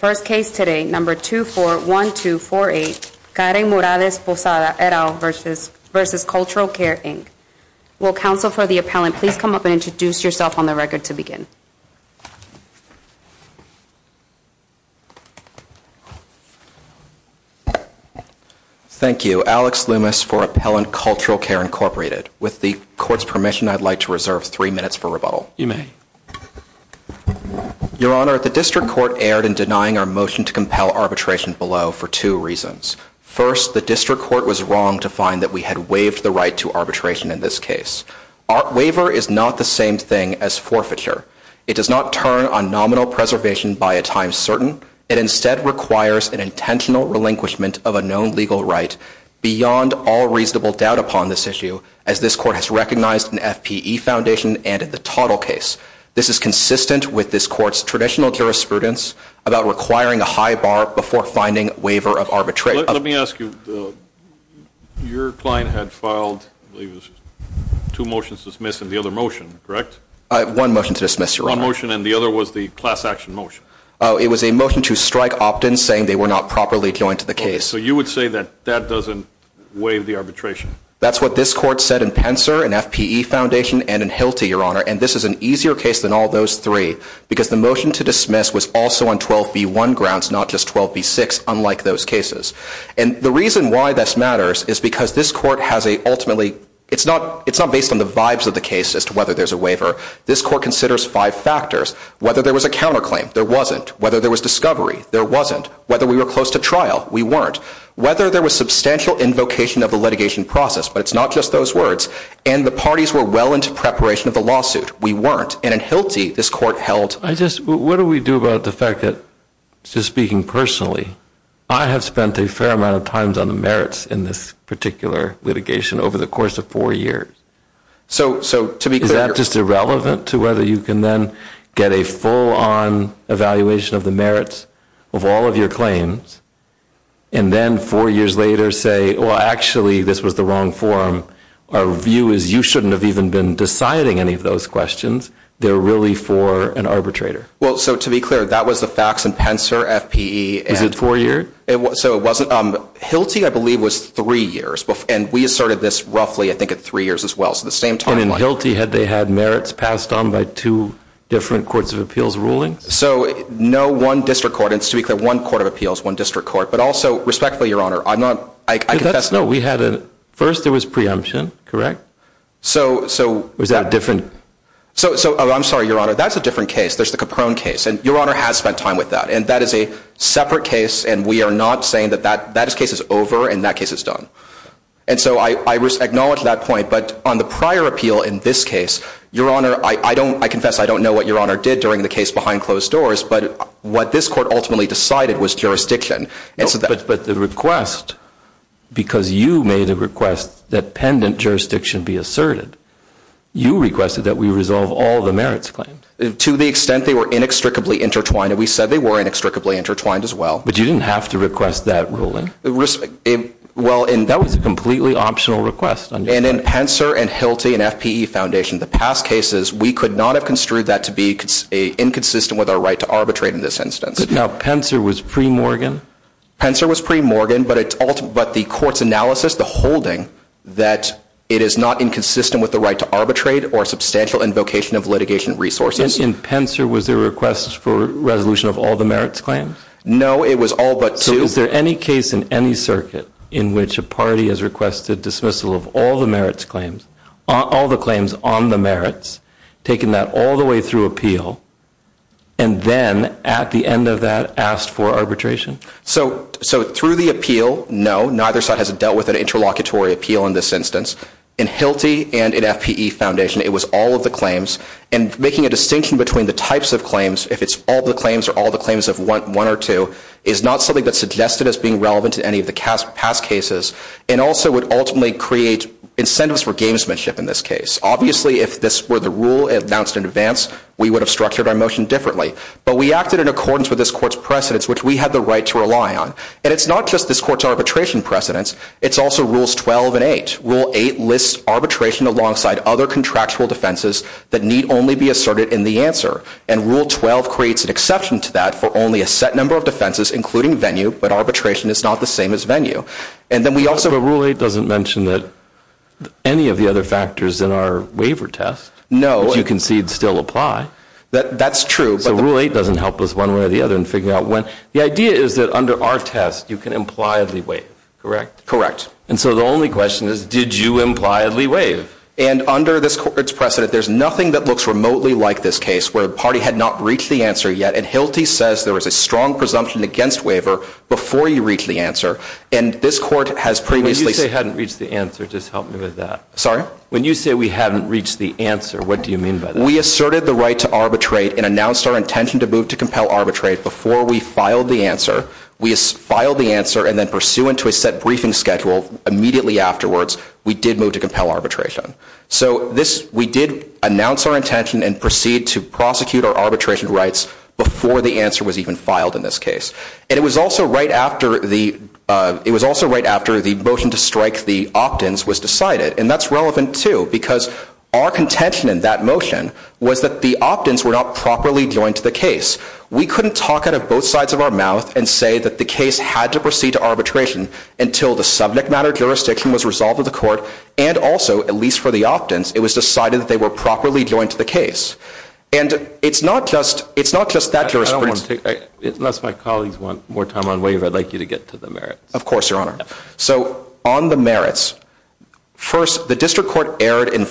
First case today, number 241248, Karen Morales Posada, et al., versus Cultural Care, Inc. Will counsel for the appellant please come up and introduce yourself on the record to begin? Thank you. Alex Loomis for Appellant Cultural Care, Incorporated. With the court's permission, I'd like to reserve three minutes for rebuttal. You may. Your Honor, the district court erred in denying our motion to compel arbitration below for two reasons. First, the district court was wrong to find that we had waived the right to arbitration in this case. Waiver is not the same thing as forfeiture. It does not turn on nominal preservation by a time certain. It instead requires an intentional relinquishment of a known legal right beyond all reasonable doubt upon this issue as this court has recognized an FPE foundation and the total case. This is consistent with this court's traditional jurisprudence about requiring a high bar before finding waiver of arbitration. Let me ask you, your client had filed two motions to dismiss and the other motion, correct? One motion to dismiss, Your Honor. One motion and the other was the class action motion. It was a motion to strike opt-ins saying they were not properly joined to the case. So you would say that that doesn't waive the arbitration? That's what this court said in Pencer, in FPE Foundation, and in Hilty, Your Honor. And this is an easier case than all those three because the motion to dismiss was also on 12b1 grounds, not just 12b6, unlike those cases. And the reason why this matters is because this court has a ultimately, it's not based on the vibes of the case as to whether there's a waiver. This court considers five factors. Whether there was a counterclaim, there wasn't. Whether there was discovery, there wasn't. Whether we were close to trial, we weren't. Whether there was substantial invocation of the litigation process, but it's not just those words. And the parties were well into preparation of the lawsuit, we weren't. And in Hilty, this court held. What do we do about the fact that, just speaking personally, I have spent a fair amount of time on the merits in this particular litigation over the course of four years. So to be clear. Is that just irrelevant to whether you can then get a full-on evaluation of the merits of all of your claims, and then four years later say, well, actually, this was the wrong forum. Our view is you shouldn't have even been deciding any of those questions. They're really for an arbitrator. Well, so to be clear, that was the facts in Pencer, FPE, and- Is it four years? It was. So it wasn't. Hilty, I believe, was three years. And we asserted this roughly, I think, at three years as well. So the same timeline. And in Hilty, had they had merits passed on by two different courts of appeals rulings? So no one district court. And to be clear, one court of appeals, one district court. But also, respectfully, Your Honor, I'm not- I confess- No, we had a- First, there was preemption, correct? So- Was that a different- So, I'm sorry, Your Honor. That's a different case. There's the Caprone case. And Your Honor has spent time with that. And that is a separate case. And we are not saying that that case is over and that case is done. And so I acknowledge that point. But on the prior appeal in this case, Your Honor, I confess I don't know what Your Honor did during the case behind closed doors. But what this court ultimately decided was jurisdiction. But the request, because you made a request that pendant jurisdiction be asserted, you requested that we resolve all the merits claims? To the extent they were inextricably intertwined, and we said they were inextricably intertwined as well. But you didn't have to request that ruling? Well, and- That was a completely optional request. And in Pencer and Hilty and FPE Foundation, the past cases, we could not have construed that to be inconsistent with our right to arbitrate in this instance. Now, Pencer was pre-Morgan? Pencer was pre-Morgan, but the court's analysis, the holding, that it is not inconsistent with the right to arbitrate or substantial invocation of litigation resources. In Pencer, was there a request for resolution of all the merits claims? No, it was all but two. So is there any case in any circuit in which a party has requested dismissal of all the claims on the merits, taken that all the way through appeal, and then, at the end of that, asked for arbitration? So through the appeal, no, neither side has dealt with an interlocutory appeal in this instance. In Hilty and in FPE Foundation, it was all of the claims, and making a distinction between the types of claims, if it's all the claims or all the claims of one or two, is not something that's suggested as being relevant to any of the past cases, and also would ultimately create incentives for gamesmanship in this case. Obviously, if this were the rule announced in advance, we would have structured our motion differently, but we acted in accordance with this court's precedents, which we had the right to rely on. And it's not just this court's arbitration precedents, it's also Rules 12 and 8. Rule 8 lists arbitration alongside other contractual defenses that need only be asserted in the answer, and Rule 12 creates an exception to that for only a set number of defenses, including venue, but arbitration is not the same as venue. But Rule 8 doesn't mention any of the other factors in our waiver test, which you concede still apply. That's true. So Rule 8 doesn't help us one way or the other in figuring out when. The idea is that under our test, you can impliedly waive, correct? Correct. And so the only question is, did you impliedly waive? And under this court's precedent, there's nothing that looks remotely like this case where the party had not reached the answer yet, and Hilty says there was a strong presumption against waiver before you reached the answer. And this court has previously said- When you say hadn't reached the answer, just help me with that. Sorry? When you say we hadn't reached the answer, what do you mean by that? We asserted the right to arbitrate and announced our intention to move to compel arbitrate before we filed the answer. We filed the answer and then pursuant to a set briefing schedule, immediately afterwards, we did move to compel arbitration. So we did announce our intention and proceed to prosecute our arbitration rights before the answer was even filed in this case. And it was also right after the motion to strike the opt-ins was decided, and that's relevant too because our contention in that motion was that the opt-ins were not properly joined to the case. We couldn't talk out of both sides of our mouth and say that the case had to proceed to arbitration until the subject matter jurisdiction was resolved with the court and also, at least for the opt-ins, it was decided that they were properly joined to the case. And it's not just that jurisprudence. I don't want to take, unless my colleagues want more time on waiver, I'd like you to get to the merits. Of course, Your Honor. So on the merits, first, the district court erred in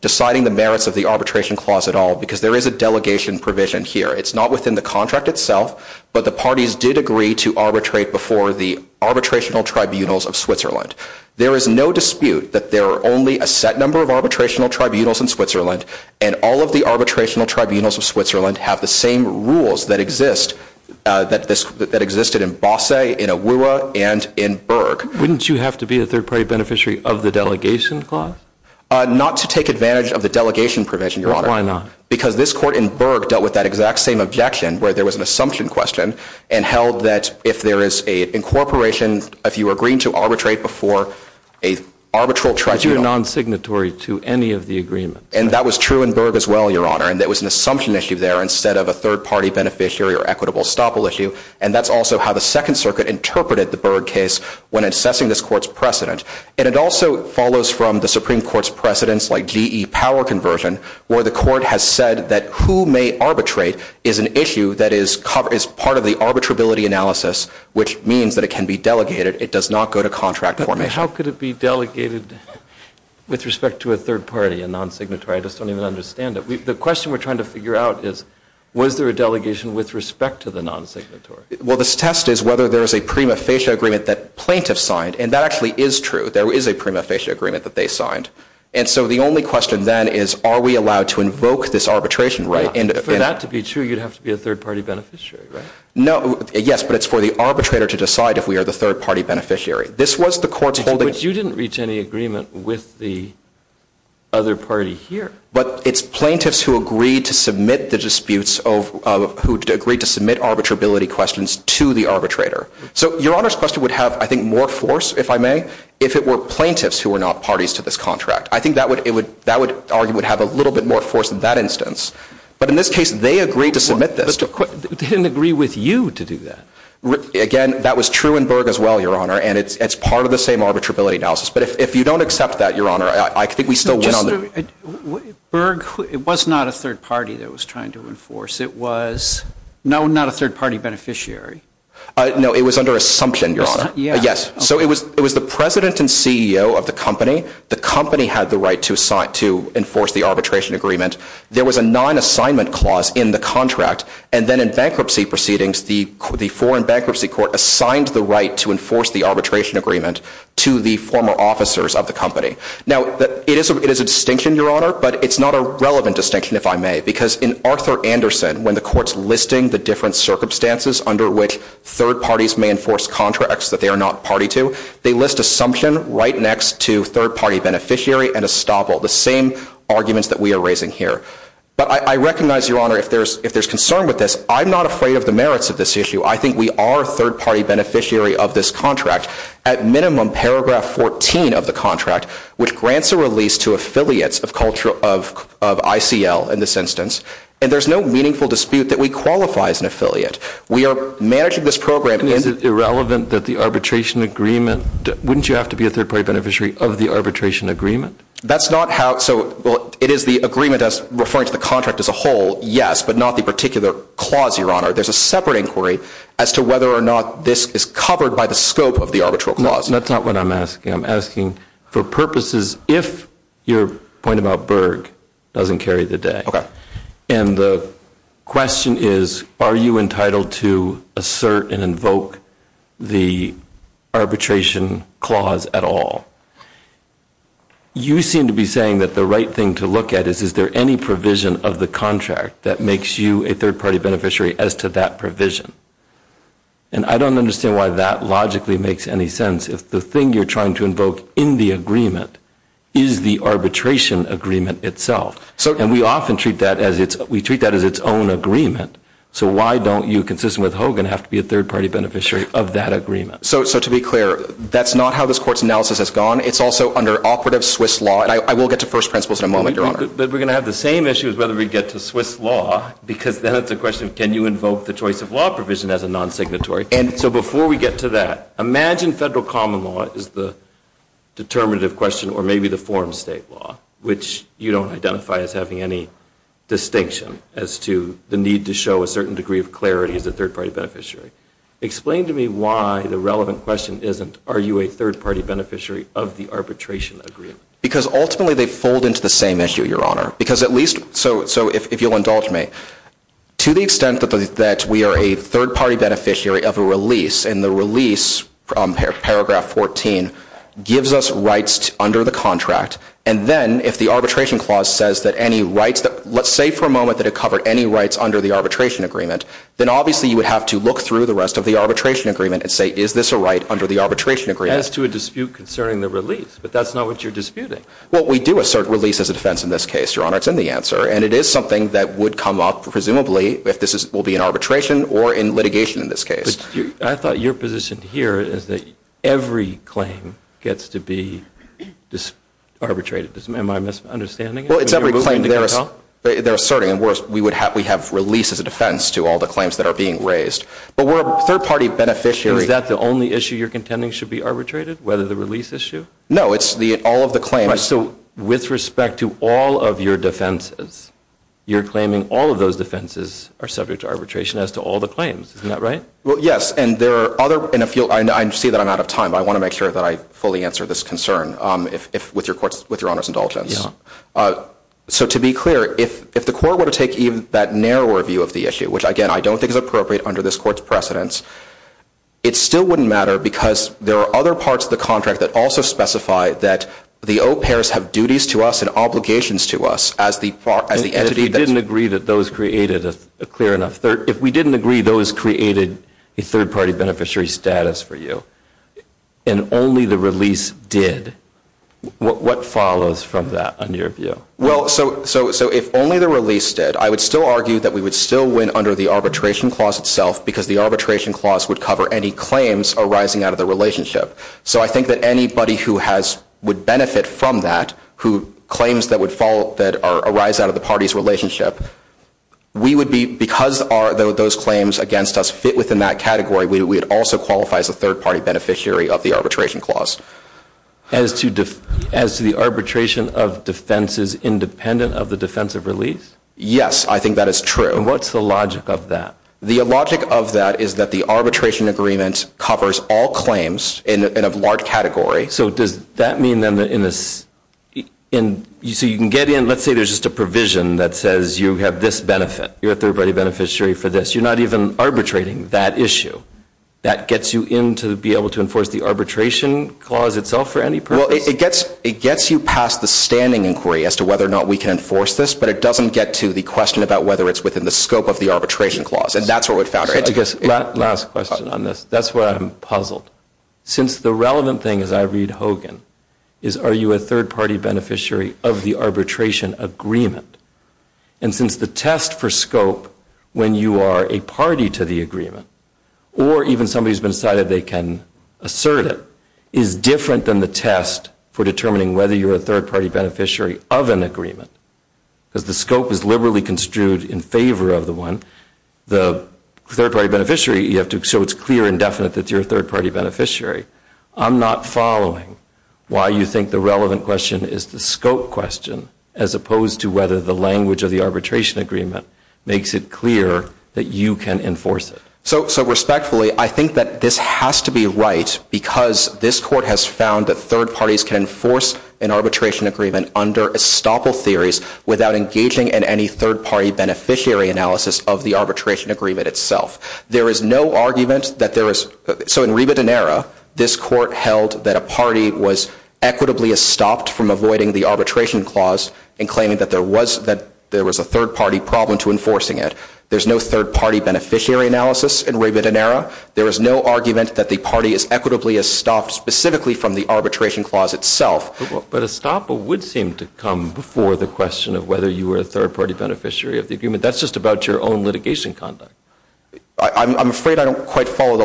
deciding the merits of the arbitration clause at all because there is a delegation provision here. It's not within the contract itself, but the parties did agree to arbitrate before the arbitrational tribunals of Switzerland. There is no dispute that there are only a set number of arbitrational tribunals in Switzerland and all of the arbitrational tribunals of Switzerland have the same rules that exist in Bosse, in AWUA, and in Berg. Wouldn't you have to be a third-party beneficiary of the delegation clause? Not to take advantage of the delegation provision, Your Honor. Why not? Because this court in Berg dealt with that exact same objection where there was an assumption question and held that if there is an incorporation, if you agree to arbitrate before an arbitral tribunal. But you're non-signatory to any of the agreements. And that was true in Berg as well, Your Honor, and there was an assumption issue there instead of a third-party beneficiary or equitable estoppel issue. And that's also how the Second Circuit interpreted the Berg case when assessing this court's precedent. And it also follows from the Supreme Court's precedence, like GE power conversion, where the court has said that who may arbitrate is an issue that is part of the arbitrability analysis, which means that it can be delegated. It does not go to contract formation. How could it be delegated with respect to a third party, a non-signatory? I just don't even understand it. The question we're trying to figure out is, was there a delegation with respect to the non-signatory? Well, this test is whether there is a prima facie agreement that plaintiffs signed. And that actually is true. There is a prima facie agreement that they signed. And so the only question then is, are we allowed to invoke this arbitration right? For that to be true, you'd have to be a third-party beneficiary, right? No. Yes, but it's for the arbitrator to decide if we are the third-party beneficiary. This was the court's holding. But you didn't reach any agreement with the other party here. But it's plaintiffs who agreed to submit the disputes of who agreed to submit arbitrability questions to the arbitrator. So Your Honor's question would have, I think, more force, if I may, if it were plaintiffs who were not parties to this contract. I think that argument would have a little bit more force in that instance. But in this case, they agreed to submit this. But they didn't agree with you to do that. Again, that was true in Berg as well, Your Honor. And it's part of the same arbitrability analysis. But if you don't accept that, Your Honor, I think we still win on that. Berg was not a third-party that was trying to enforce. It was, no, not a third-party beneficiary. No, it was under assumption, Your Honor. Yes. So it was the president and CEO of the company. The company had the right to enforce the arbitration agreement. There was a non-assignment clause in the contract. And then in bankruptcy proceedings, the foreign bankruptcy court assigned the right to enforce the arbitration agreement to the former officers of the company. Now, it is a distinction, Your Honor. But it's not a relevant distinction, if I may. Because in Arthur Anderson, when the court's listing the different circumstances under which third parties may enforce contracts that they are not party to, they list assumption right next to third-party beneficiary and estoppel, the same arguments that we are raising here. But I recognize, Your Honor, if there's concern with this, I'm not afraid of the merits of this issue. I think we are a third-party beneficiary of this contract. At minimum, paragraph 14 of the contract, which grants a release to affiliates of culture of ICL, in this instance, and there's no meaningful dispute that we qualify as an affiliate. We are managing this program in- Is it irrelevant that the arbitration agreement, wouldn't you have to be a third-party beneficiary of the arbitration agreement? That's not how, so, well, it is the agreement as referring to the contract as a whole, yes, but not the particular clause, Your Honor. There's a separate inquiry as to whether or not this is covered by the scope of the arbitral clause. That's not what I'm asking. I'm asking, for purposes, if your point about Berg doesn't carry the day, and the question is, are you entitled to assert and invoke the arbitration clause at all? You seem to be saying that the right thing to look at is, is there any provision of the contract that makes you a third-party beneficiary as to that provision? And I don't understand why that logically makes any sense. If the thing you're trying to invoke in the agreement is the arbitration agreement itself, and we often treat that as its own agreement, so why don't you, consistent with Hogan, have to be a third-party beneficiary of that agreement? So, to be clear, that's not how this Court's analysis has gone. It's also under operative Swiss law, and I will get to first principles in a moment, But we're going to have the same issue as whether we get to Swiss law, because then it's a question of, can you invoke the choice of law provision as a non-signatory? And so before we get to that, imagine federal common law is the determinative question, or maybe the form state law, which you don't identify as having any distinction as to the need to show a certain degree of clarity as a third-party beneficiary. Explain to me why the relevant question isn't, are you a third-party beneficiary of the arbitration agreement? Because ultimately they fold into the same issue, Your Honor. Because at least, so if you'll indulge me, to the extent that we are a third-party beneficiary of a release, and the release, paragraph 14, gives us rights under the contract, and then if the arbitration clause says that any rights, let's say for a moment that it covered any rights under the arbitration agreement, then obviously you would have to look through the rest of the arbitration agreement and say, is this a right under the arbitration agreement? As to a dispute concerning the release, but that's not what you're disputing. Well, we do assert release as a defense in this case, Your Honor, it's in the answer, and it is something that would come up, presumably, if this will be in arbitration or in litigation in this case. But I thought your position here is that every claim gets to be arbitrated, am I misunderstanding it? Well, it's every claim, they're asserting, and worse, we have release as a defense to all the claims that are being raised, but we're a third-party beneficiary. Is that the only issue you're contending should be arbitrated, whether the release issue? No, it's all of the claims. Right, so with respect to all of your defenses, you're claiming all of those defenses are subject to arbitration as to all the claims, isn't that right? Well, yes, and there are other, and I see that I'm out of time, but I want to make sure that I fully answer this concern with your Honor's indulgence. So to be clear, if the court were to take even that narrower view of the issue, which again, I don't think is appropriate under this court's precedence, it still wouldn't matter because there are other parts of the contract that also specify that the au pairs have duties to us and obligations to us as the entity that's... If we didn't agree that those created a clear enough, if we didn't agree those created a third-party beneficiary status for you, and only the release did, what follows from that on your view? Well, so if only the release did, I would still argue that we would still win under the arbitration clause itself because the arbitration clause would cover any claims arising out of the relationship. So I think that anybody who has, would benefit from that, who claims that would fall, that arise out of the party's relationship, we would be, because those claims against us fit within that category, we would also qualify as a third-party beneficiary of the arbitration clause. As to the arbitration of defenses independent of the defensive release? Yes, I think that is true. What's the logic of that? The logic of that is that the arbitration agreement covers all claims in a large category. So does that mean then that in this, so you can get in, let's say there's just a provision that says you have this benefit, you're a third-party beneficiary for this, you're not even arbitrating that issue, that gets you in to be able to enforce the arbitration clause itself for any purpose? Well, it gets you past the standing inquiry as to whether or not we can enforce this, but it doesn't get to the question about whether it's within the scope of the arbitration clause, and that's what would... So I guess, last question on this, that's where I'm puzzled. Since the relevant thing, as I read Hogan, is are you a third-party beneficiary of the arbitration agreement? And since the test for scope, when you are a party to the agreement, or even somebody has been decided they can assert it, is different than the test for determining whether you're a third-party beneficiary of an agreement, because the scope is liberally construed in favor of the one, the third-party beneficiary, you have to... So it's clear and definite that you're a third-party beneficiary. I'm not following why you think the relevant question is the scope question, as opposed to whether the language of the arbitration agreement makes it clear that you can enforce it. So respectfully, I think that this has to be right, because this court has found that third parties can enforce an arbitration agreement under estoppel theories without engaging in any third-party beneficiary analysis of the arbitration agreement itself. There is no argument that there is... So in Riba Donera, this court held that a party was equitably estopped from avoiding the arbitration clause in claiming that there was a third-party problem to enforcing it. There's no third-party beneficiary analysis in Riba Donera. There is no argument that the party is equitably estopped specifically from the arbitration clause itself. But estoppel would seem to come before the question of whether you were a third-party beneficiary of the agreement. That's just about your own litigation conduct. I'm afraid I don't quite follow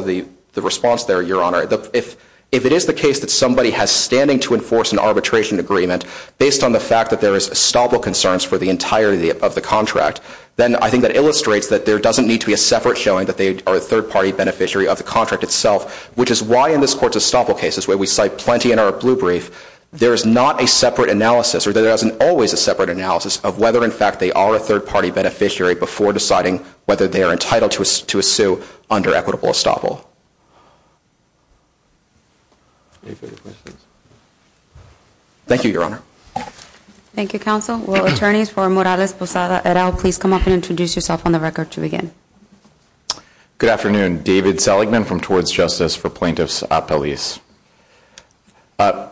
the response there, Your Honor. If it is the case that somebody has standing to enforce an arbitration agreement based on the fact that there is estoppel concerns for the entirety of the contract, then I think that illustrates that there doesn't need to be a separate showing that they are a third-party beneficiary of the contract itself, which is why in this court's estoppel cases, where we cite plenty in our blue brief, there is not a separate analysis, or there isn't always a separate analysis of whether, in fact, they are a third-party beneficiary before deciding whether they are entitled to a sue under equitable estoppel. Thank you, Your Honor. Thank you, Counsel. Will attorneys for Morales, Posada, et al. please come up and introduce yourself on the record to begin? Good afternoon. David Seligman from Towards Justice for Plaintiffs at Police.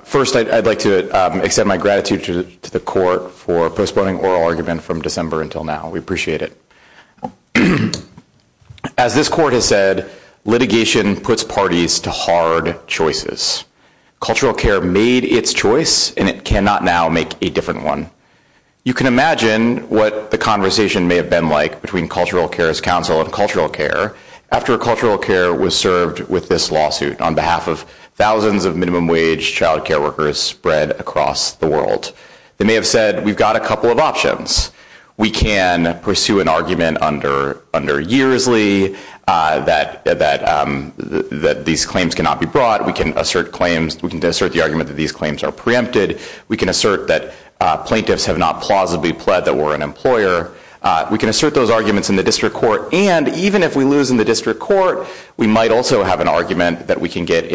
First, I'd like to extend my gratitude to the court for postponing oral argument from December until now. We appreciate it. As this court has said, litigation puts parties to hard choices. Cultural care made its choice, and it cannot now make a different one. You can imagine what the conversation may have been like between Cultural Care's counsel and Cultural Care after Cultural Care was served with this lawsuit on behalf of thousands of minimum wage child care workers spread across the world. They may have said, we've got a couple of options. We can pursue an argument under Yearsley that these claims cannot be brought. We can assert the argument that these claims are preempted. We can assert that plaintiffs have not plausibly pled that we're an employer. We can assert those arguments in the district court. And even if we lose in the district court, we might also have an argument that we can get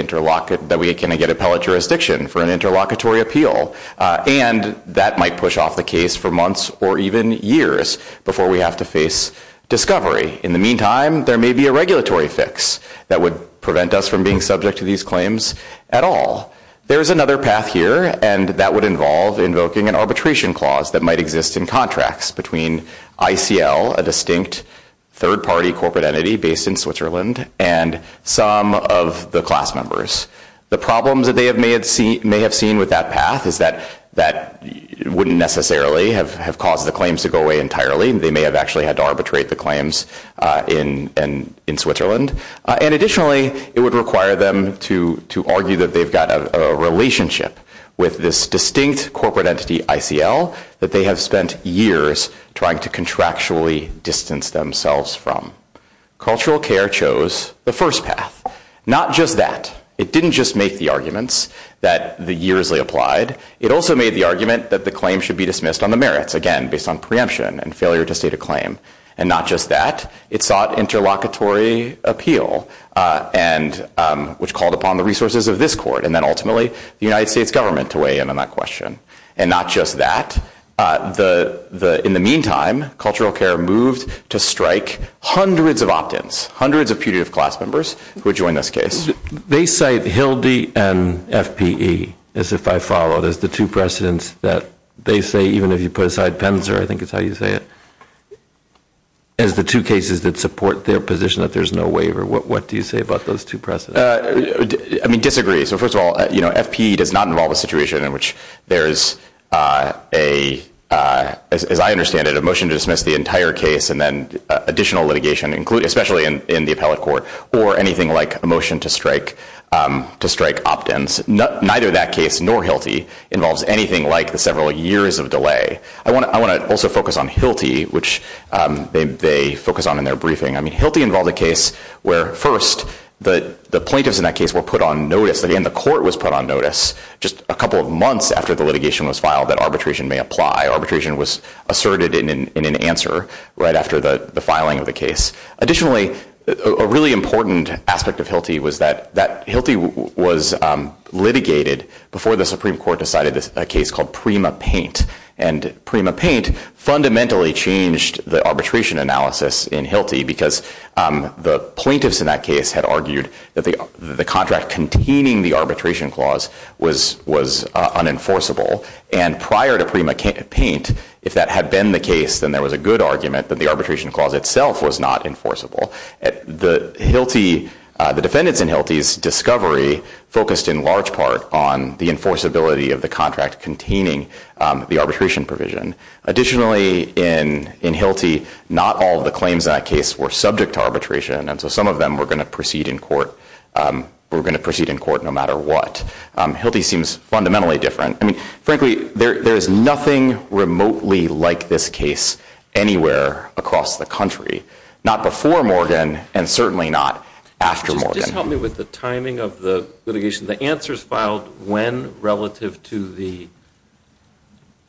appellate jurisdiction for an interlocutory appeal. And that might push off the case for months or even years before we have to face discovery. In the meantime, there may be a regulatory fix that would prevent us from being subject to these claims at all. There's another path here, and that would involve invoking an arbitration clause that might exist in contracts between ICL, a distinct third-party corporate entity based in Switzerland, and some of the class members. The problems that they may have seen with that path is that that wouldn't necessarily have caused the claims to go away entirely. They may have actually had to arbitrate the claims in Switzerland. And additionally, it would require them to argue that they've got a relationship with this distinct corporate entity ICL that they have spent years trying to contractually distance themselves from. Cultural Care chose the first path. Not just that. It didn't just make the arguments that the years they applied. It also made the argument that the claim should be dismissed on the merits, again, based on preemption and failure to state a claim. And not just that. It sought interlocutory appeal, which called upon the resources of this court, and then ultimately, the United States government to weigh in on that question. And not just that. In the meantime, Cultural Care moved to strike hundreds of opt-ins, hundreds of putative class members who had joined this case. They cite HILDE and FPE, as if I follow, as the two precedents that they say, even if you put aside PENSA, I think it's how you say it, as the two cases that support their position that there's no waiver. What do you say about those two precedents? I mean, disagree. So first of all, FPE does not involve a situation in which there is, as I understand it, a motion to dismiss the entire case and then additional litigation, especially in the appellate court, or anything like a motion to strike opt-ins. Neither that case nor HILDE involves anything like the several years of delay. I want to also focus on HILDE, which they focus on in their briefing. I mean, HILDE involved a case where, first, the plaintiffs in that case were put on notice and the court was put on notice just a couple of months after the litigation was filed that arbitration may apply. Arbitration was asserted in an answer right after the filing of the case. Additionally, a really important aspect of HILDE was that HILDE was litigated before the Supreme Court decided a case called Prima Paint. And Prima Paint fundamentally changed the arbitration analysis in HILDE because the plaintiffs in that case had argued that the contract containing the arbitration clause was unenforceable. And prior to Prima Paint, if that had been the case, then there was a good argument that the arbitration clause itself was not enforceable. The defendants in HILDE's discovery focused in large part on the enforceability of the contract containing the arbitration provision. Additionally, in HILDE, not all of the claims in that case were subject to arbitration. And so some of them were going to proceed in court, were going to proceed in court no matter what. HILDE seems fundamentally different. I mean, frankly, there's nothing remotely like this case anywhere across the country. Not before Morgan and certainly not after Morgan. Just help me with the timing of the litigation. The answer's filed when relative to the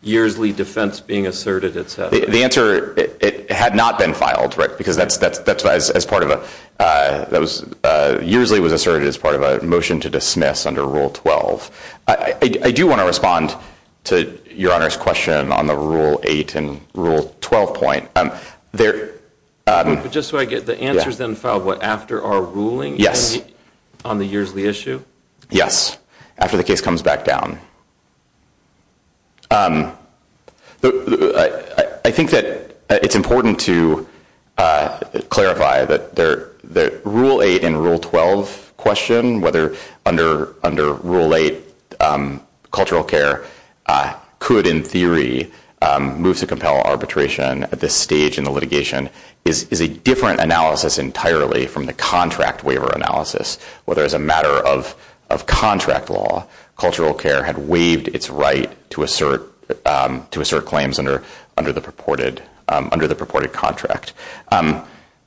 yearsly defense being asserted, et cetera. The answer, it had not been filed, right? Because that's as part of a, that was, yearsly was asserted as part of a motion to dismiss under Rule 12. I do want to respond to Your Honor's question on the Rule 8 and Rule 12 point. Just so I get, the answer's then filed, what, after our ruling on the yearsly issue? Yes. After the case comes back down. I think that it's important to clarify that the Rule 8 and Rule 12 question, whether under Rule 8, cultural care could, in theory, move to compel arbitration at this stage in the litigation, is a different analysis entirely from the contract waiver analysis. Whether as a matter of contract law, cultural care had waived its right to assert claims under the purported contract.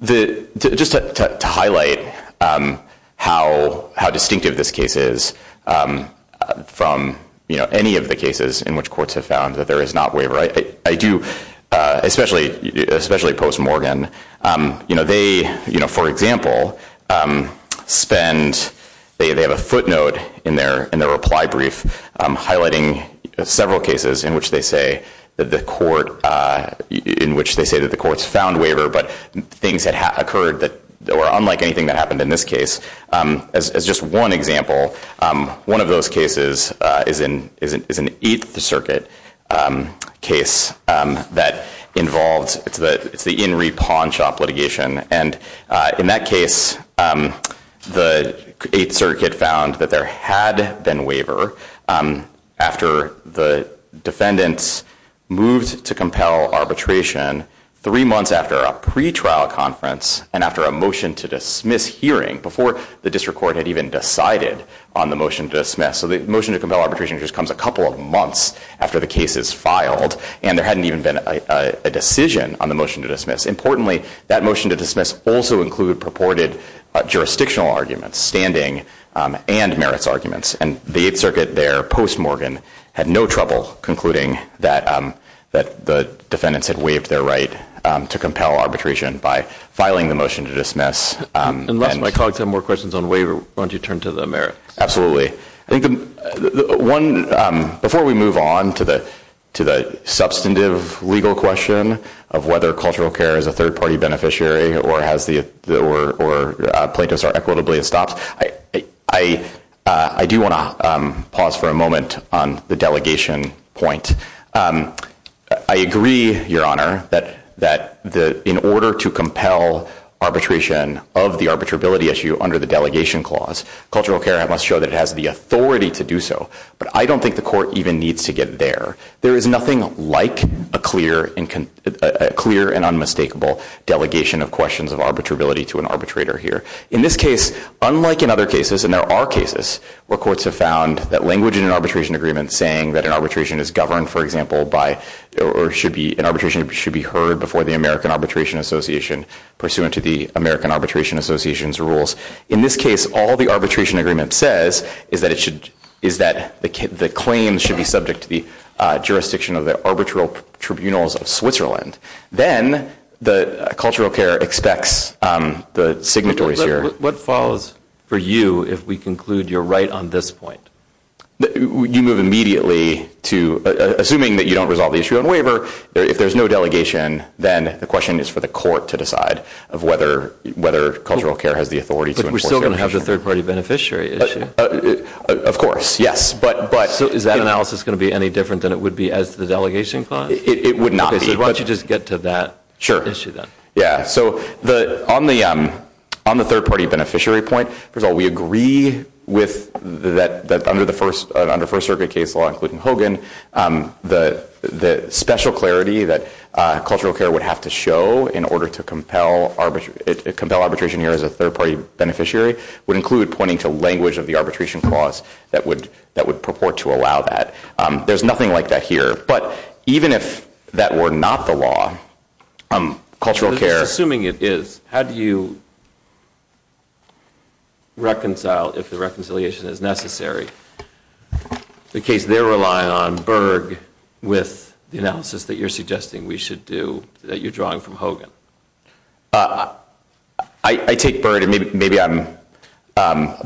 Just to highlight how distinctive this case is from any of the cases in which courts have found that there is not waiver. I do, especially post-Morgan, you know, they, you know, for example, spend, they have a footnote in their reply brief highlighting several cases in which they say that the court, in which they say that the courts found waiver, but things had occurred that were unlike anything that happened in this case. As just one example, one of those cases is an 8th Circuit case that involves, it's the In Re Pawn Shop litigation. And in that case, the 8th Circuit found that there had been waiver after the defendants moved to compel arbitration three months after a pretrial conference and after a motion to dismiss hearing before the district court had even decided on the motion to dismiss. So the motion to compel arbitration just comes a couple of months after the case is filed and there hadn't even been a decision on the motion to dismiss. Importantly, that motion to dismiss also included purported jurisdictional arguments, standing and merits arguments. And the 8th Circuit there, post-Morgan, had no trouble concluding that the defendants had waived their right to compel arbitration by filing the motion to dismiss. Unless my colleagues have more questions on waiver, why don't you turn to the merits? I think the one, before we move on to the substantive legal question of whether cultural care is a third-party beneficiary or has the, or plaintiffs are equitably estopped, I do want to pause for a moment on the delegation point. I agree, Your Honor, that in order to compel arbitration of the arbitrability issue under the delegation clause, cultural care must show that it has the authority to do so. But I don't think the court even needs to get there. There is nothing like a clear and unmistakable delegation of questions of arbitrability to an arbitrator here. In this case, unlike in other cases, and there are cases where courts have found that language in an arbitration agreement saying that an arbitration is governed, for example, by, or should be, an arbitration should be heard before the American Arbitration Association pursuant to the American Arbitration Association's rules. In this case, all the arbitration agreement says is that it should, is that the claims should be subject to the jurisdiction of the arbitral tribunals of Switzerland. Then the cultural care expects the signatories here. What follows for you if we conclude you're right on this point? You move immediately to, assuming that you don't resolve the issue on waiver, if there's no delegation, then the question is for the court to decide of whether cultural care has the authority to enforce the arbitration. But we're still going to have the third party beneficiary issue. Of course, yes. But, but. So is that analysis going to be any different than it would be as to the delegation clause? It would not be. Why don't you just get to that issue then. Yeah, so the, on the, on the third party beneficiary point, first of all, we agree with that, that under the first, under First Circuit case law, including Hogan, the, the special clarity that cultural care would have to show in order to compel arbitration, compel arbitration here as a third party beneficiary would include pointing to language of the arbitration clause that would, that would purport to allow that. There's nothing like that here. But even if that were not the law, cultural care. So just assuming it is, how do you reconcile, if the reconciliation is necessary, the case they're relying on, Berg, with the analysis that you're suggesting we should do, that you're drawing from Hogan? I, I take Berg, and maybe, maybe I'm,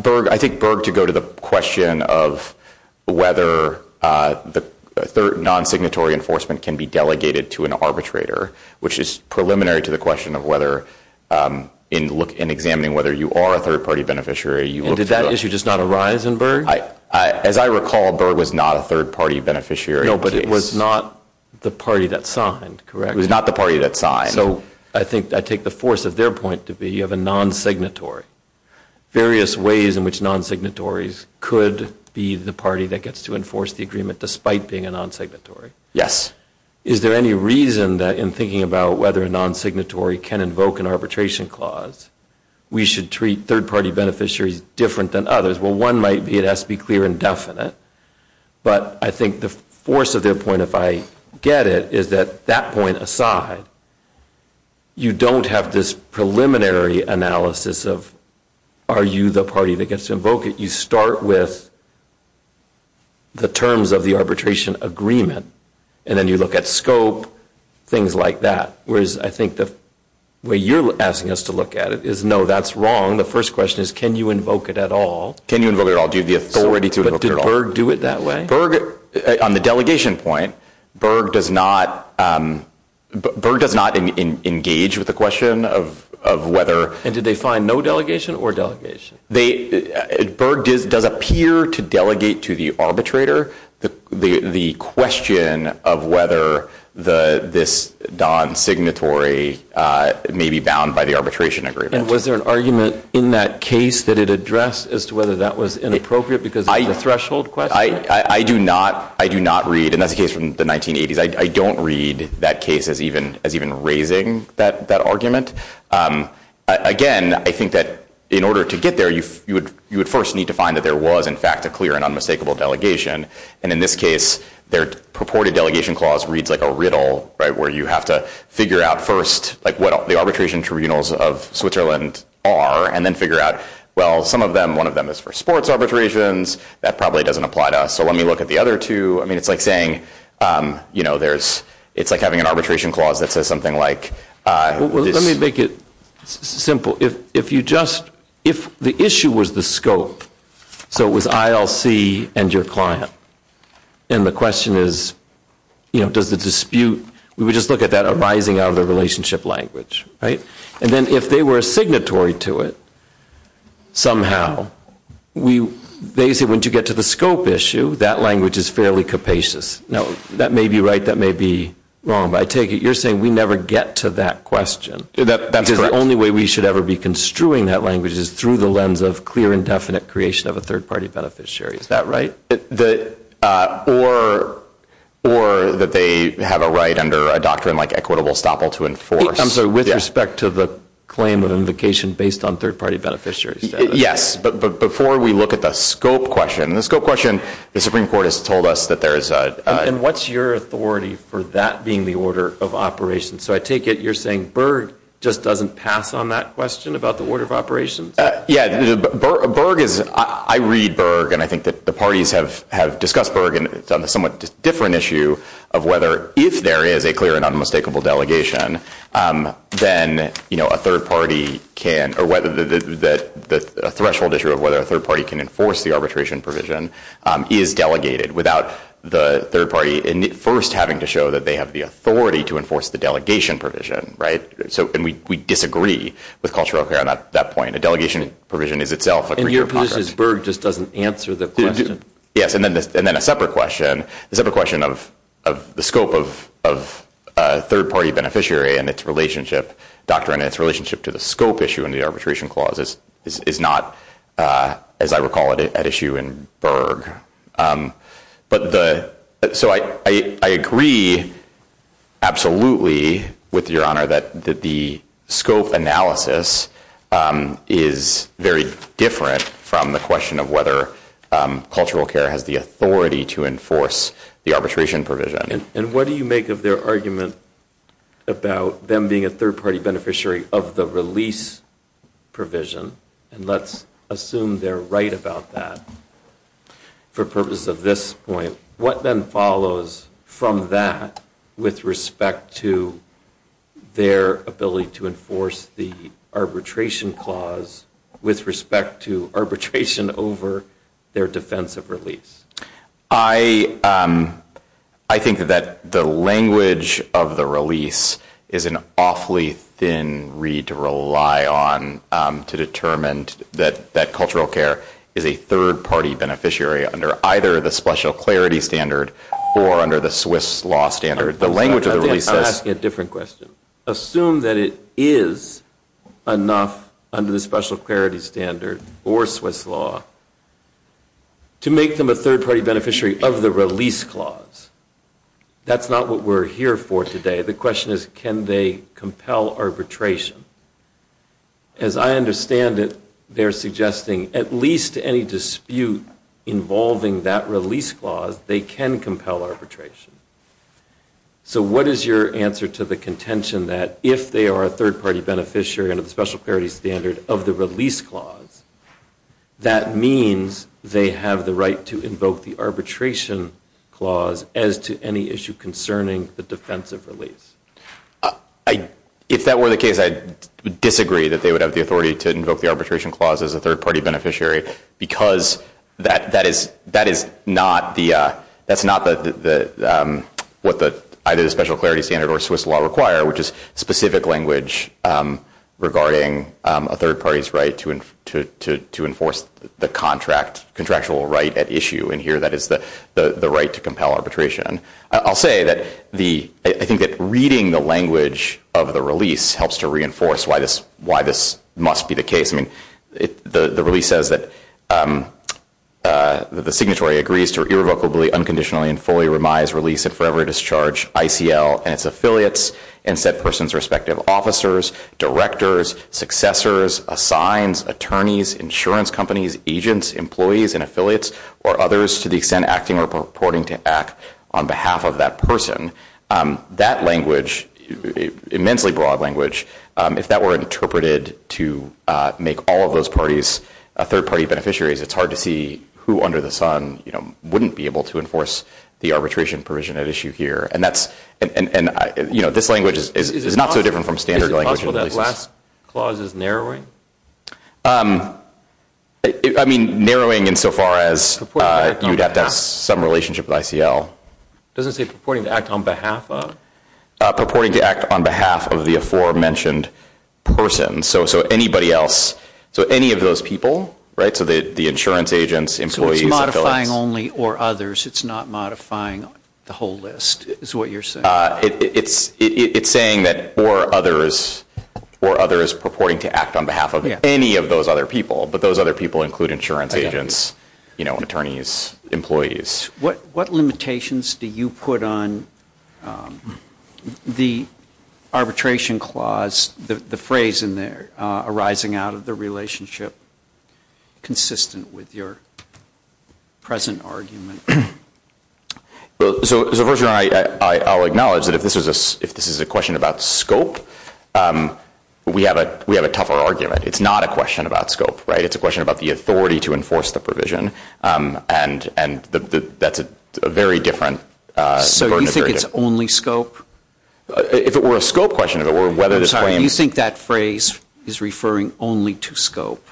Berg, I think Berg to go to the question of whether the third, non-signatory enforcement can be delegated to an arbitrator, which is preliminary to the question of whether in look, in examining whether you are a third party beneficiary, you look for. And did that issue just not arise in Berg? I, I, as I recall, Berg was not a third party beneficiary. No, but it was not the party that signed, correct? It was not the party that signed. So, I think, I take the force of their point to be of a non-signatory, various ways in which non-signatories could be the party that gets to enforce the agreement despite being a non-signatory. Yes. Is there any reason that in thinking about whether a non-signatory can invoke an arbitration clause, we should treat third party beneficiaries different than others? Well, one might be it has to be clear and definite, but I think the force of their point, if I get it, is that, that point aside, you don't have this preliminary analysis of, are you the party that gets to invoke it? You start with the terms of the arbitration agreement, and then you look at scope, things like that. Whereas, I think the way you're asking us to look at it is, no, that's wrong. The first question is, can you invoke it at all? Can you invoke it at all? Do you have the authority to invoke it at all? So, did Berg do it that way? On the delegation point, Berg does not engage with the question of whether... And did they find no delegation or delegation? Berg does appear to delegate to the arbitrator the question of whether this non-signatory may be bound by the arbitration agreement. And was there an argument in that case that it addressed as to whether that was inappropriate because of the threshold question? I do not read, and that's a case from the 1980s, I don't read that case as even raising that argument. Again, I think that in order to get there, you would first need to find that there was, in fact, a clear and unmistakable delegation. And in this case, their purported delegation clause reads like a riddle, where you have to figure out first what the arbitration tribunals of Switzerland are, and then figure out, well, some of them, one of them is for sports arbitrations. That probably doesn't apply to us. So let me look at the other two. I mean, it's like saying, you know, it's like having an arbitration clause that says something like... Well, let me make it simple. If the issue was the scope, so it was ILC and your client, and the question is, you know, does the dispute... We would just look at that arising out of the relationship language, right? And then if they were a signatory to it, somehow, they say, once you get to the scope issue, that language is fairly capacious. Now, that may be right, that may be wrong, but I take it you're saying we never get to that question. That's correct. Because the only way we should ever be construing that language is through the lens of clear and definite creation of a third-party beneficiary. Is that right? Or that they have a right under a doctrine like equitable estoppel to enforce... I'm sorry, with respect to the claim of invocation based on third-party beneficiary status. Yes, but before we look at the scope question, the scope question, the Supreme Court has told us that there is a... And what's your authority for that being the order of operations? So I take it you're saying Berg just doesn't pass on that question about the order of operations? Yeah, Berg is... I read Berg, and I think that the parties have discussed Berg on a somewhat different issue of whether, if there is a clear and unmistakable delegation, then a third-party can... Or whether the threshold issue of whether a third-party can enforce the arbitration provision is delegated without the third-party first having to show that they have the authority to enforce the delegation provision, right? So we disagree with cultural care on that point. A delegation provision is itself a... And your position is Berg just doesn't answer the question? Yes. And then a separate question, the separate question of the scope of a third-party beneficiary and its relationship, doctrine and its relationship to the scope issue in the arbitration clause is not, as I recall it, at issue in Berg. But the... So I agree absolutely with Your Honor that the scope analysis is very different from the question of whether cultural care has the authority to enforce the arbitration provision. And what do you make of their argument about them being a third-party beneficiary of the release provision? And let's assume they're right about that. For purpose of this point, what then follows from that with respect to their ability to enforce the arbitration clause with respect to arbitration over their defense of release? I think that the language of the release is an awfully thin reed to rely on to determine that cultural care is a third-party beneficiary under either the special clarity standard or under the Swiss law standard. The language of the release... I think I'm asking a different question. I would assume that it is enough under the special clarity standard or Swiss law to make them a third-party beneficiary of the release clause. That's not what we're here for today. The question is, can they compel arbitration? As I understand it, they're suggesting at least any dispute involving that release clause, they can compel arbitration. So what is your answer to the contention that if they are a third-party beneficiary under the special clarity standard of the release clause, that means they have the right to invoke the arbitration clause as to any issue concerning the defense of release? If that were the case, I'd disagree that they would have the authority to invoke the arbitration clause as a third-party beneficiary because that is not what either the special clarity standard or Swiss law require, which is specific language regarding a third-party's right to enforce the contractual right at issue, and here that is the right to compel arbitration. I'll say that I think that reading the language of the release helps to reinforce why this must be the case. The release says that the signatory agrees to irrevocably, unconditionally, and fully remise release at forever discharge ICL and its affiliates and said person's respective officers, directors, successors, assigns, attorneys, insurance companies, agents, employees, and affiliates or others to the extent acting or purporting to act on behalf of that person. That language, immensely broad language, if that were interpreted to make all of those parties a third-party beneficiary, it's hard to see who under the sun wouldn't be able to enforce the arbitration provision at issue here, and this language is not so different from standard language. Is it possible that last clause is narrowing? I mean narrowing in so far as you'd have to have some relationship with ICL. It doesn't say purporting to act on behalf of? Purporting to act on behalf of the aforementioned person, so anybody else, so any of those people, right, so the insurance agents, employees, affiliates. So it's modifying only or others, it's not modifying the whole list is what you're saying? It's saying that or others, or others purporting to act on behalf of any of those other people, but those other people include insurance agents, attorneys, employees. What limitations do you put on the arbitration clause, the phrase in there, arising out of the relationship consistent with your present argument? So first of all, I'll acknowledge that if this is a question about scope, we have a tougher argument. It's not a question about scope, right, it's a question about the authority to enforce the provision, and that's a very different burden. So you think it's only scope? If it were a scope question, or whether it's claims? I'm sorry, you think that phrase is referring only to scope?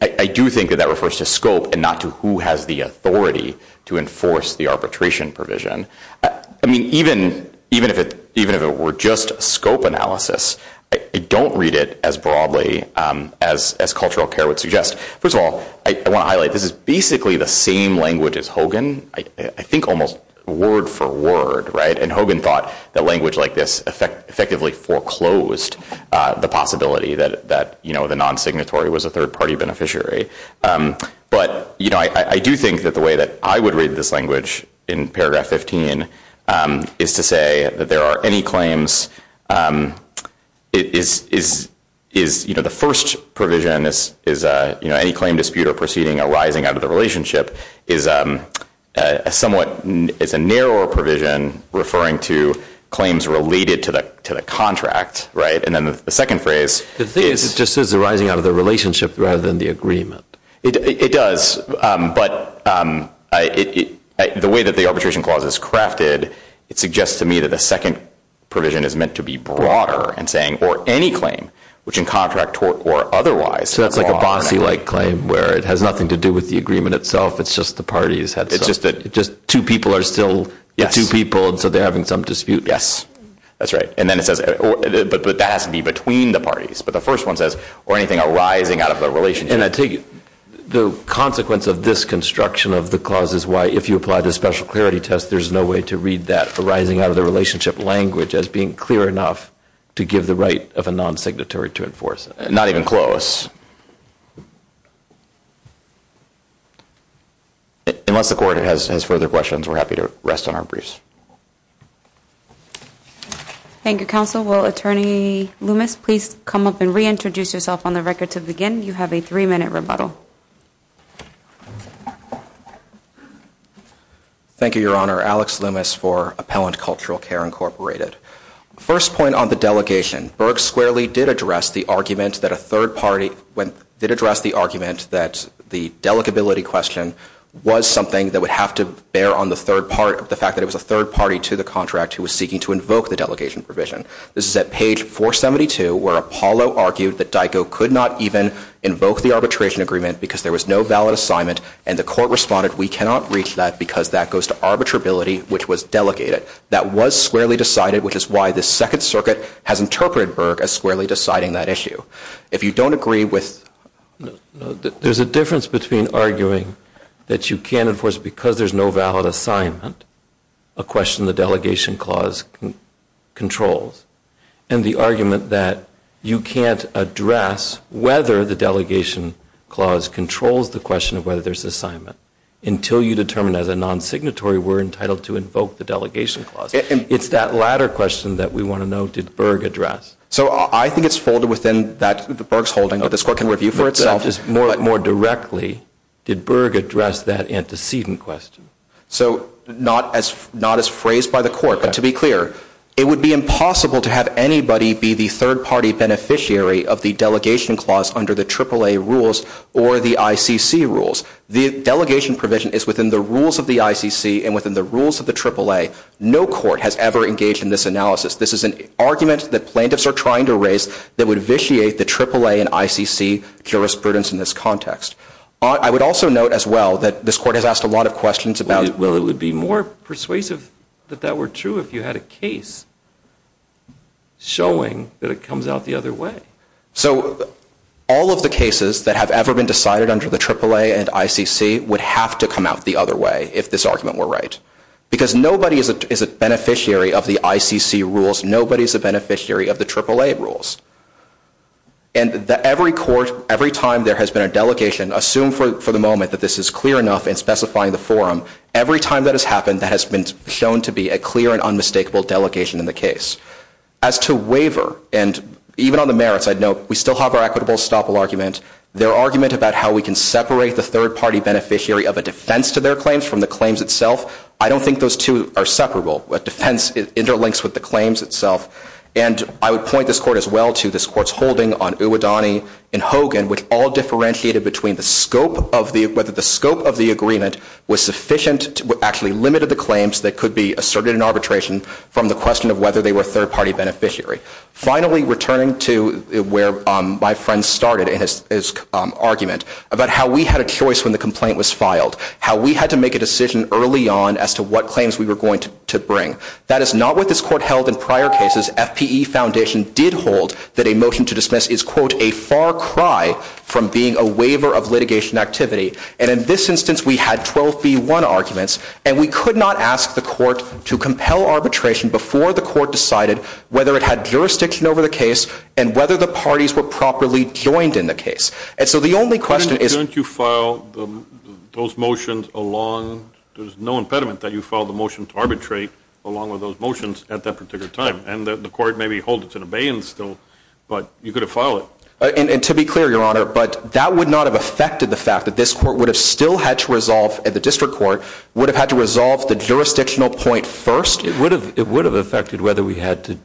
I do think that that refers to scope and not to who has the authority to enforce the arbitration provision. I mean, even if it were just scope analysis, I don't read it as broadly as cultural care would suggest. First of all, I want to highlight, this is basically the same language as Hogan, I think almost word for word, right? And Hogan thought that language like this effectively foreclosed the possibility that the non-signatory was a third-party beneficiary. But I do think that the way that I would read this language in paragraph 15 is to say that there are any claims is, you know, the first provision is, you know, any claim dispute or proceeding arising out of the relationship is a somewhat, it's a narrower provision referring to claims related to the contract, right? And then the second phrase is- The thing is, it just says arising out of the relationship rather than the agreement. It does, but the way that the arbitration clause is crafted, it suggests to me that the second provision is meant to be broader and saying, or any claim, which in contract tort or otherwise- So that's like a bossy-like claim where it has nothing to do with the agreement itself, it's just the parties had some- It's just that- Just two people are still- Yes. Two people, and so they're having some dispute. Yes. That's right. And then it says, but that has to be between the parties. But the first one says, or anything arising out of the relationship. And I take it, the consequence of this construction of the clause is why, if you apply the special clarity test, there's no way to read that arising out of the relationship language as being clear enough to give the right of a non-signatory to enforce it. Not even close. Unless the court has further questions, we're happy to rest on our briefs. Thank you, counsel. Will Attorney Loomis please come up and reintroduce yourself on the record to begin? You have a three-minute rebuttal. Thank you, Your Honor. Alex Loomis for Appellant Cultural Care, Incorporated. First point on the delegation. Berg squarely did address the argument that a third party, did address the argument that the delegability question was something that would have to bear on the third part of the fact that it was a third party to the contract who was seeking to invoke the delegation provision. This is at page 472, where Apollo argued that DICO could not even invoke the arbitration agreement because there was no valid assignment, and the court responded, we cannot reach that because that goes to arbitrability, which was delegated. That was squarely decided, which is why the Second Circuit has interpreted Berg as squarely deciding that issue. If you don't agree with... There's a difference between arguing that you can't enforce it because there's no valid assignment, a question the delegation clause controls, and the argument that you can't address whether the delegation clause controls the question of whether there's assignment until you determine as a non-signatory we're entitled to invoke the delegation clause. It's that latter question that we want to know, did Berg address? So I think it's folded within that, that Berg's holding, that this court can review for itself. More directly, did Berg address that antecedent question? So not as phrased by the court, but to be clear, it would be impossible to have anybody be the third party beneficiary of the delegation clause under the AAA rules or the ICC rules. The delegation provision is within the rules of the ICC and within the rules of the AAA. No court has ever engaged in this analysis. This is an argument that plaintiffs are trying to raise that would vitiate the AAA and ICC jurisprudence in this context. I would also note as well that this court has asked a lot of questions about... Well, it would be more persuasive that that were true if you had a case showing that it comes out the other way. So all of the cases that have ever been decided under the AAA and ICC would have to come out the other way if this argument were right. Because nobody is a beneficiary of the ICC rules, nobody's a beneficiary of the AAA rules. And every court, every time there has been a delegation, assume for the moment that this is clear enough in specifying the forum, every time that has happened, that has been shown to be a clear and unmistakable delegation in the case. As to waiver, and even on the merits I'd note, we still have our equitable estoppel argument. Their argument about how we can separate the third party beneficiary of a defense to their claims from the claims itself, I don't think those two are separable. A defense interlinks with the claims itself. And I would point this court as well to this court's holding on Uadani and Hogan, which all differentiated between the scope of the agreement was sufficient, actually limited the claims that could be asserted in arbitration from the question of whether they were third party beneficiary. Finally returning to where my friend started in his argument about how we had a choice when the complaint was filed, how we had to make a decision early on as to what claims we were going to bring. That is not what this court held in prior cases. FPE Foundation did hold that a motion to dismiss is, quote, a far cry from being a waiver of litigation activity. And in this instance, we had 12B1 arguments, and we could not ask the court to compel arbitration before the court decided whether it had jurisdiction over the case and whether the parties were properly joined in the case. And so the only question is- Why don't you file those motions along, there's no impediment that you file the motion to arbitrate along with those motions at that particular time. And the court maybe hold it to the bay and still, but you could have filed it. And to be clear, Your Honor, but that would not have affected the fact that this court would have still had to resolve at the district court, would have had to resolve the jurisdictional point first. It would have, it would have affected whether we had to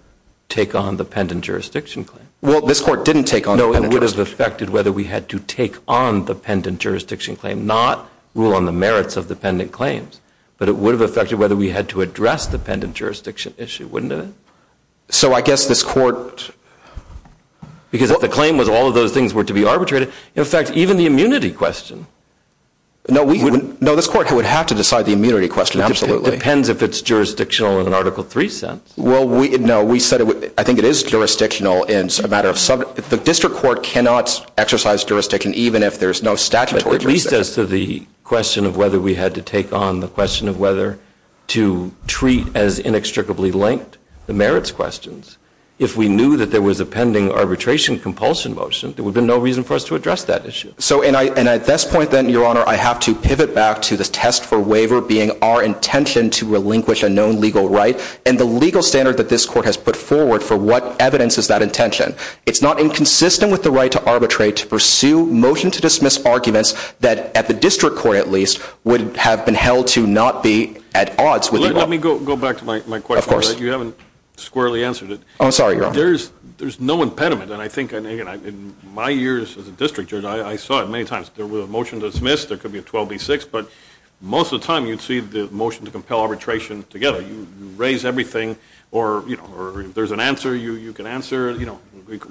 take on the pendant jurisdiction claim. Well, this court didn't take on- No, it would have affected whether we had to take on the pendant jurisdiction claim, not rule on the merits of the pendant claims. But it would have affected whether we had to address the pendant jurisdiction issue, wouldn't it? So, I guess this court- Because if the claim was all of those things were to be arbitrated, in fact, even the immunity question- No, we wouldn't- No, this court would have to decide the immunity question. Absolutely. It depends if it's jurisdictional in an Article III sense. Well, we, no, we said it would, I think it is jurisdictional in a matter of some, the district court cannot exercise jurisdiction even if there's no statutory jurisdiction. That leads us to the question of whether we had to take on the question of whether to treat as inextricably linked the merits questions. If we knew that there was a pending arbitration compulsion motion, there would have been no reason for us to address that issue. So, and I, and at this point then, Your Honor, I have to pivot back to the test for waiver being our intention to relinquish a known legal right and the legal standard that this court has put forward for what evidence is that intention. It's not inconsistent with the right to arbitrate to pursue motion to dismiss arguments that at the district court, at least, would have been held to not be at odds with- Let me go back to my question. You haven't squarely answered it. I'm sorry, Your Honor. There's, there's no impediment and I think in my years as a district judge, I saw it many times. There was a motion to dismiss. There could be a 12B6, but most of the time, you'd see the motion to compel arbitration together. You raise everything or, you know, or if there's an answer, you can answer, you know,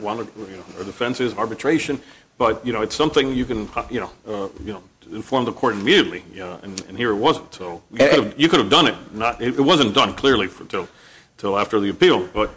or the defense is arbitration, but, you know, it's something you can, you know, you know, inform the court immediately, you know, and here it wasn't, so you could have, you could have done it, not, it wasn't done clearly until, until after the appeal, but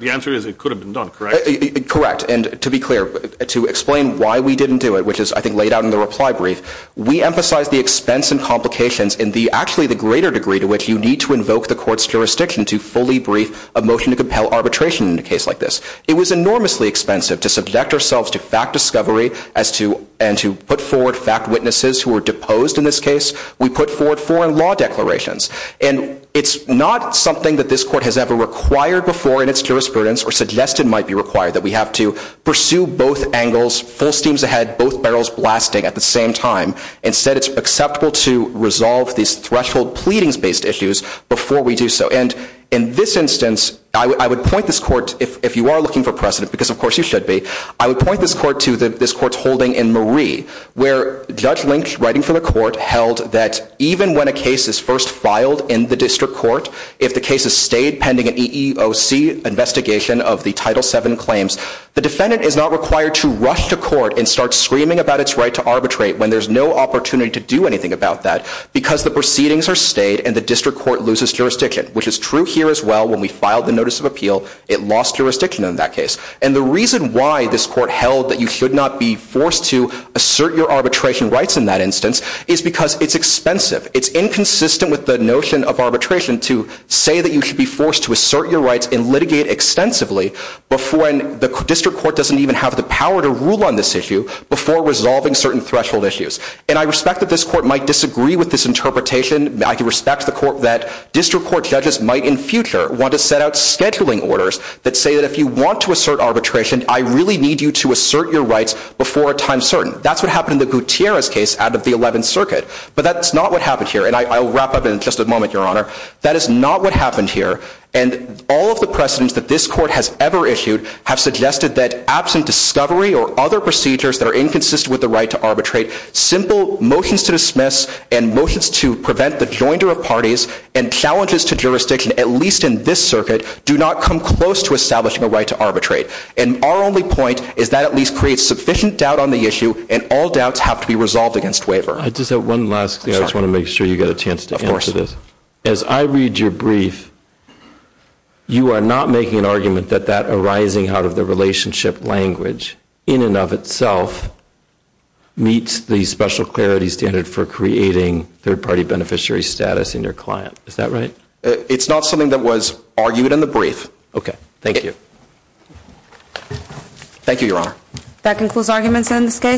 the answer is it could have been done, correct? Correct. And to be clear, to explain why we didn't do it, which is, I think, laid out in the reply brief, we emphasize the expense and complications in the, actually, the greater degree to which you need to invoke the court's jurisdiction to fully brief a motion to compel arbitration in a case like this. It was enormously expensive to subject ourselves to fact discovery as to, and to put forward fact witnesses who were deposed in this case. We put forward foreign law declarations, and it's not something that this court has ever required before in its jurisprudence or suggested might be required, that we have to pursue both angles, full steams ahead, both barrels blasting at the same time. Instead, it's acceptable to resolve these threshold pleadings-based issues before we do so. And in this instance, I would point this court, if you are looking for precedent, because of course you should be, I would point this court to this court's holding in Marie, where Judge Lynch, writing for the court, held that even when a case is first filed in the district court, if the case is stayed pending an EEOC investigation of the Title VII claims, the defendant is not required to rush to court and start screaming about its right to arbitrate when there's no opportunity to do anything about that, because the proceedings are stayed and the district court loses jurisdiction, which is true here as well when we filed the notice of appeal, it lost jurisdiction in that case. And the reason why this court held that you should not be forced to assert your arbitration rights in that instance is because it's expensive. It's inconsistent with the notion of arbitration to say that you should be forced to assert your rights and litigate extensively before, and the district court doesn't even have the power to rule on this issue, before resolving certain threshold issues. And I respect that this court might disagree with this interpretation. I can respect the court that district court judges might in future want to set out scheduling orders that say that if you want to assert arbitration, I really need you to assert your rights before a time certain. That's what happened in the Gutierrez case out of the 11th Circuit, but that's not what happened here. And I'll wrap up in just a moment, Your Honor. That is not what happened here. And all of the precedents that this court has ever issued have suggested that absent discovery or other procedures that are inconsistent with the right to arbitrate, simple motions to dismiss, and motions to prevent the joinder of parties, and challenges to jurisdiction, at least in this circuit, do not come close to establishing a right to arbitrate. And our only point is that at least creates sufficient doubt on the issue, and all doubts have to be resolved against waiver. I just have one last thing. I just want to make sure you get a chance to answer this. As I read your brief, you are not making an argument that that arising out of the relationship language in and of itself meets the special clarity standard for creating third-party beneficiary status in your client. Is that right? It's not something that was argued in the brief. Okay. Thank you. Thank you, Your Honor. That concludes arguments in this case.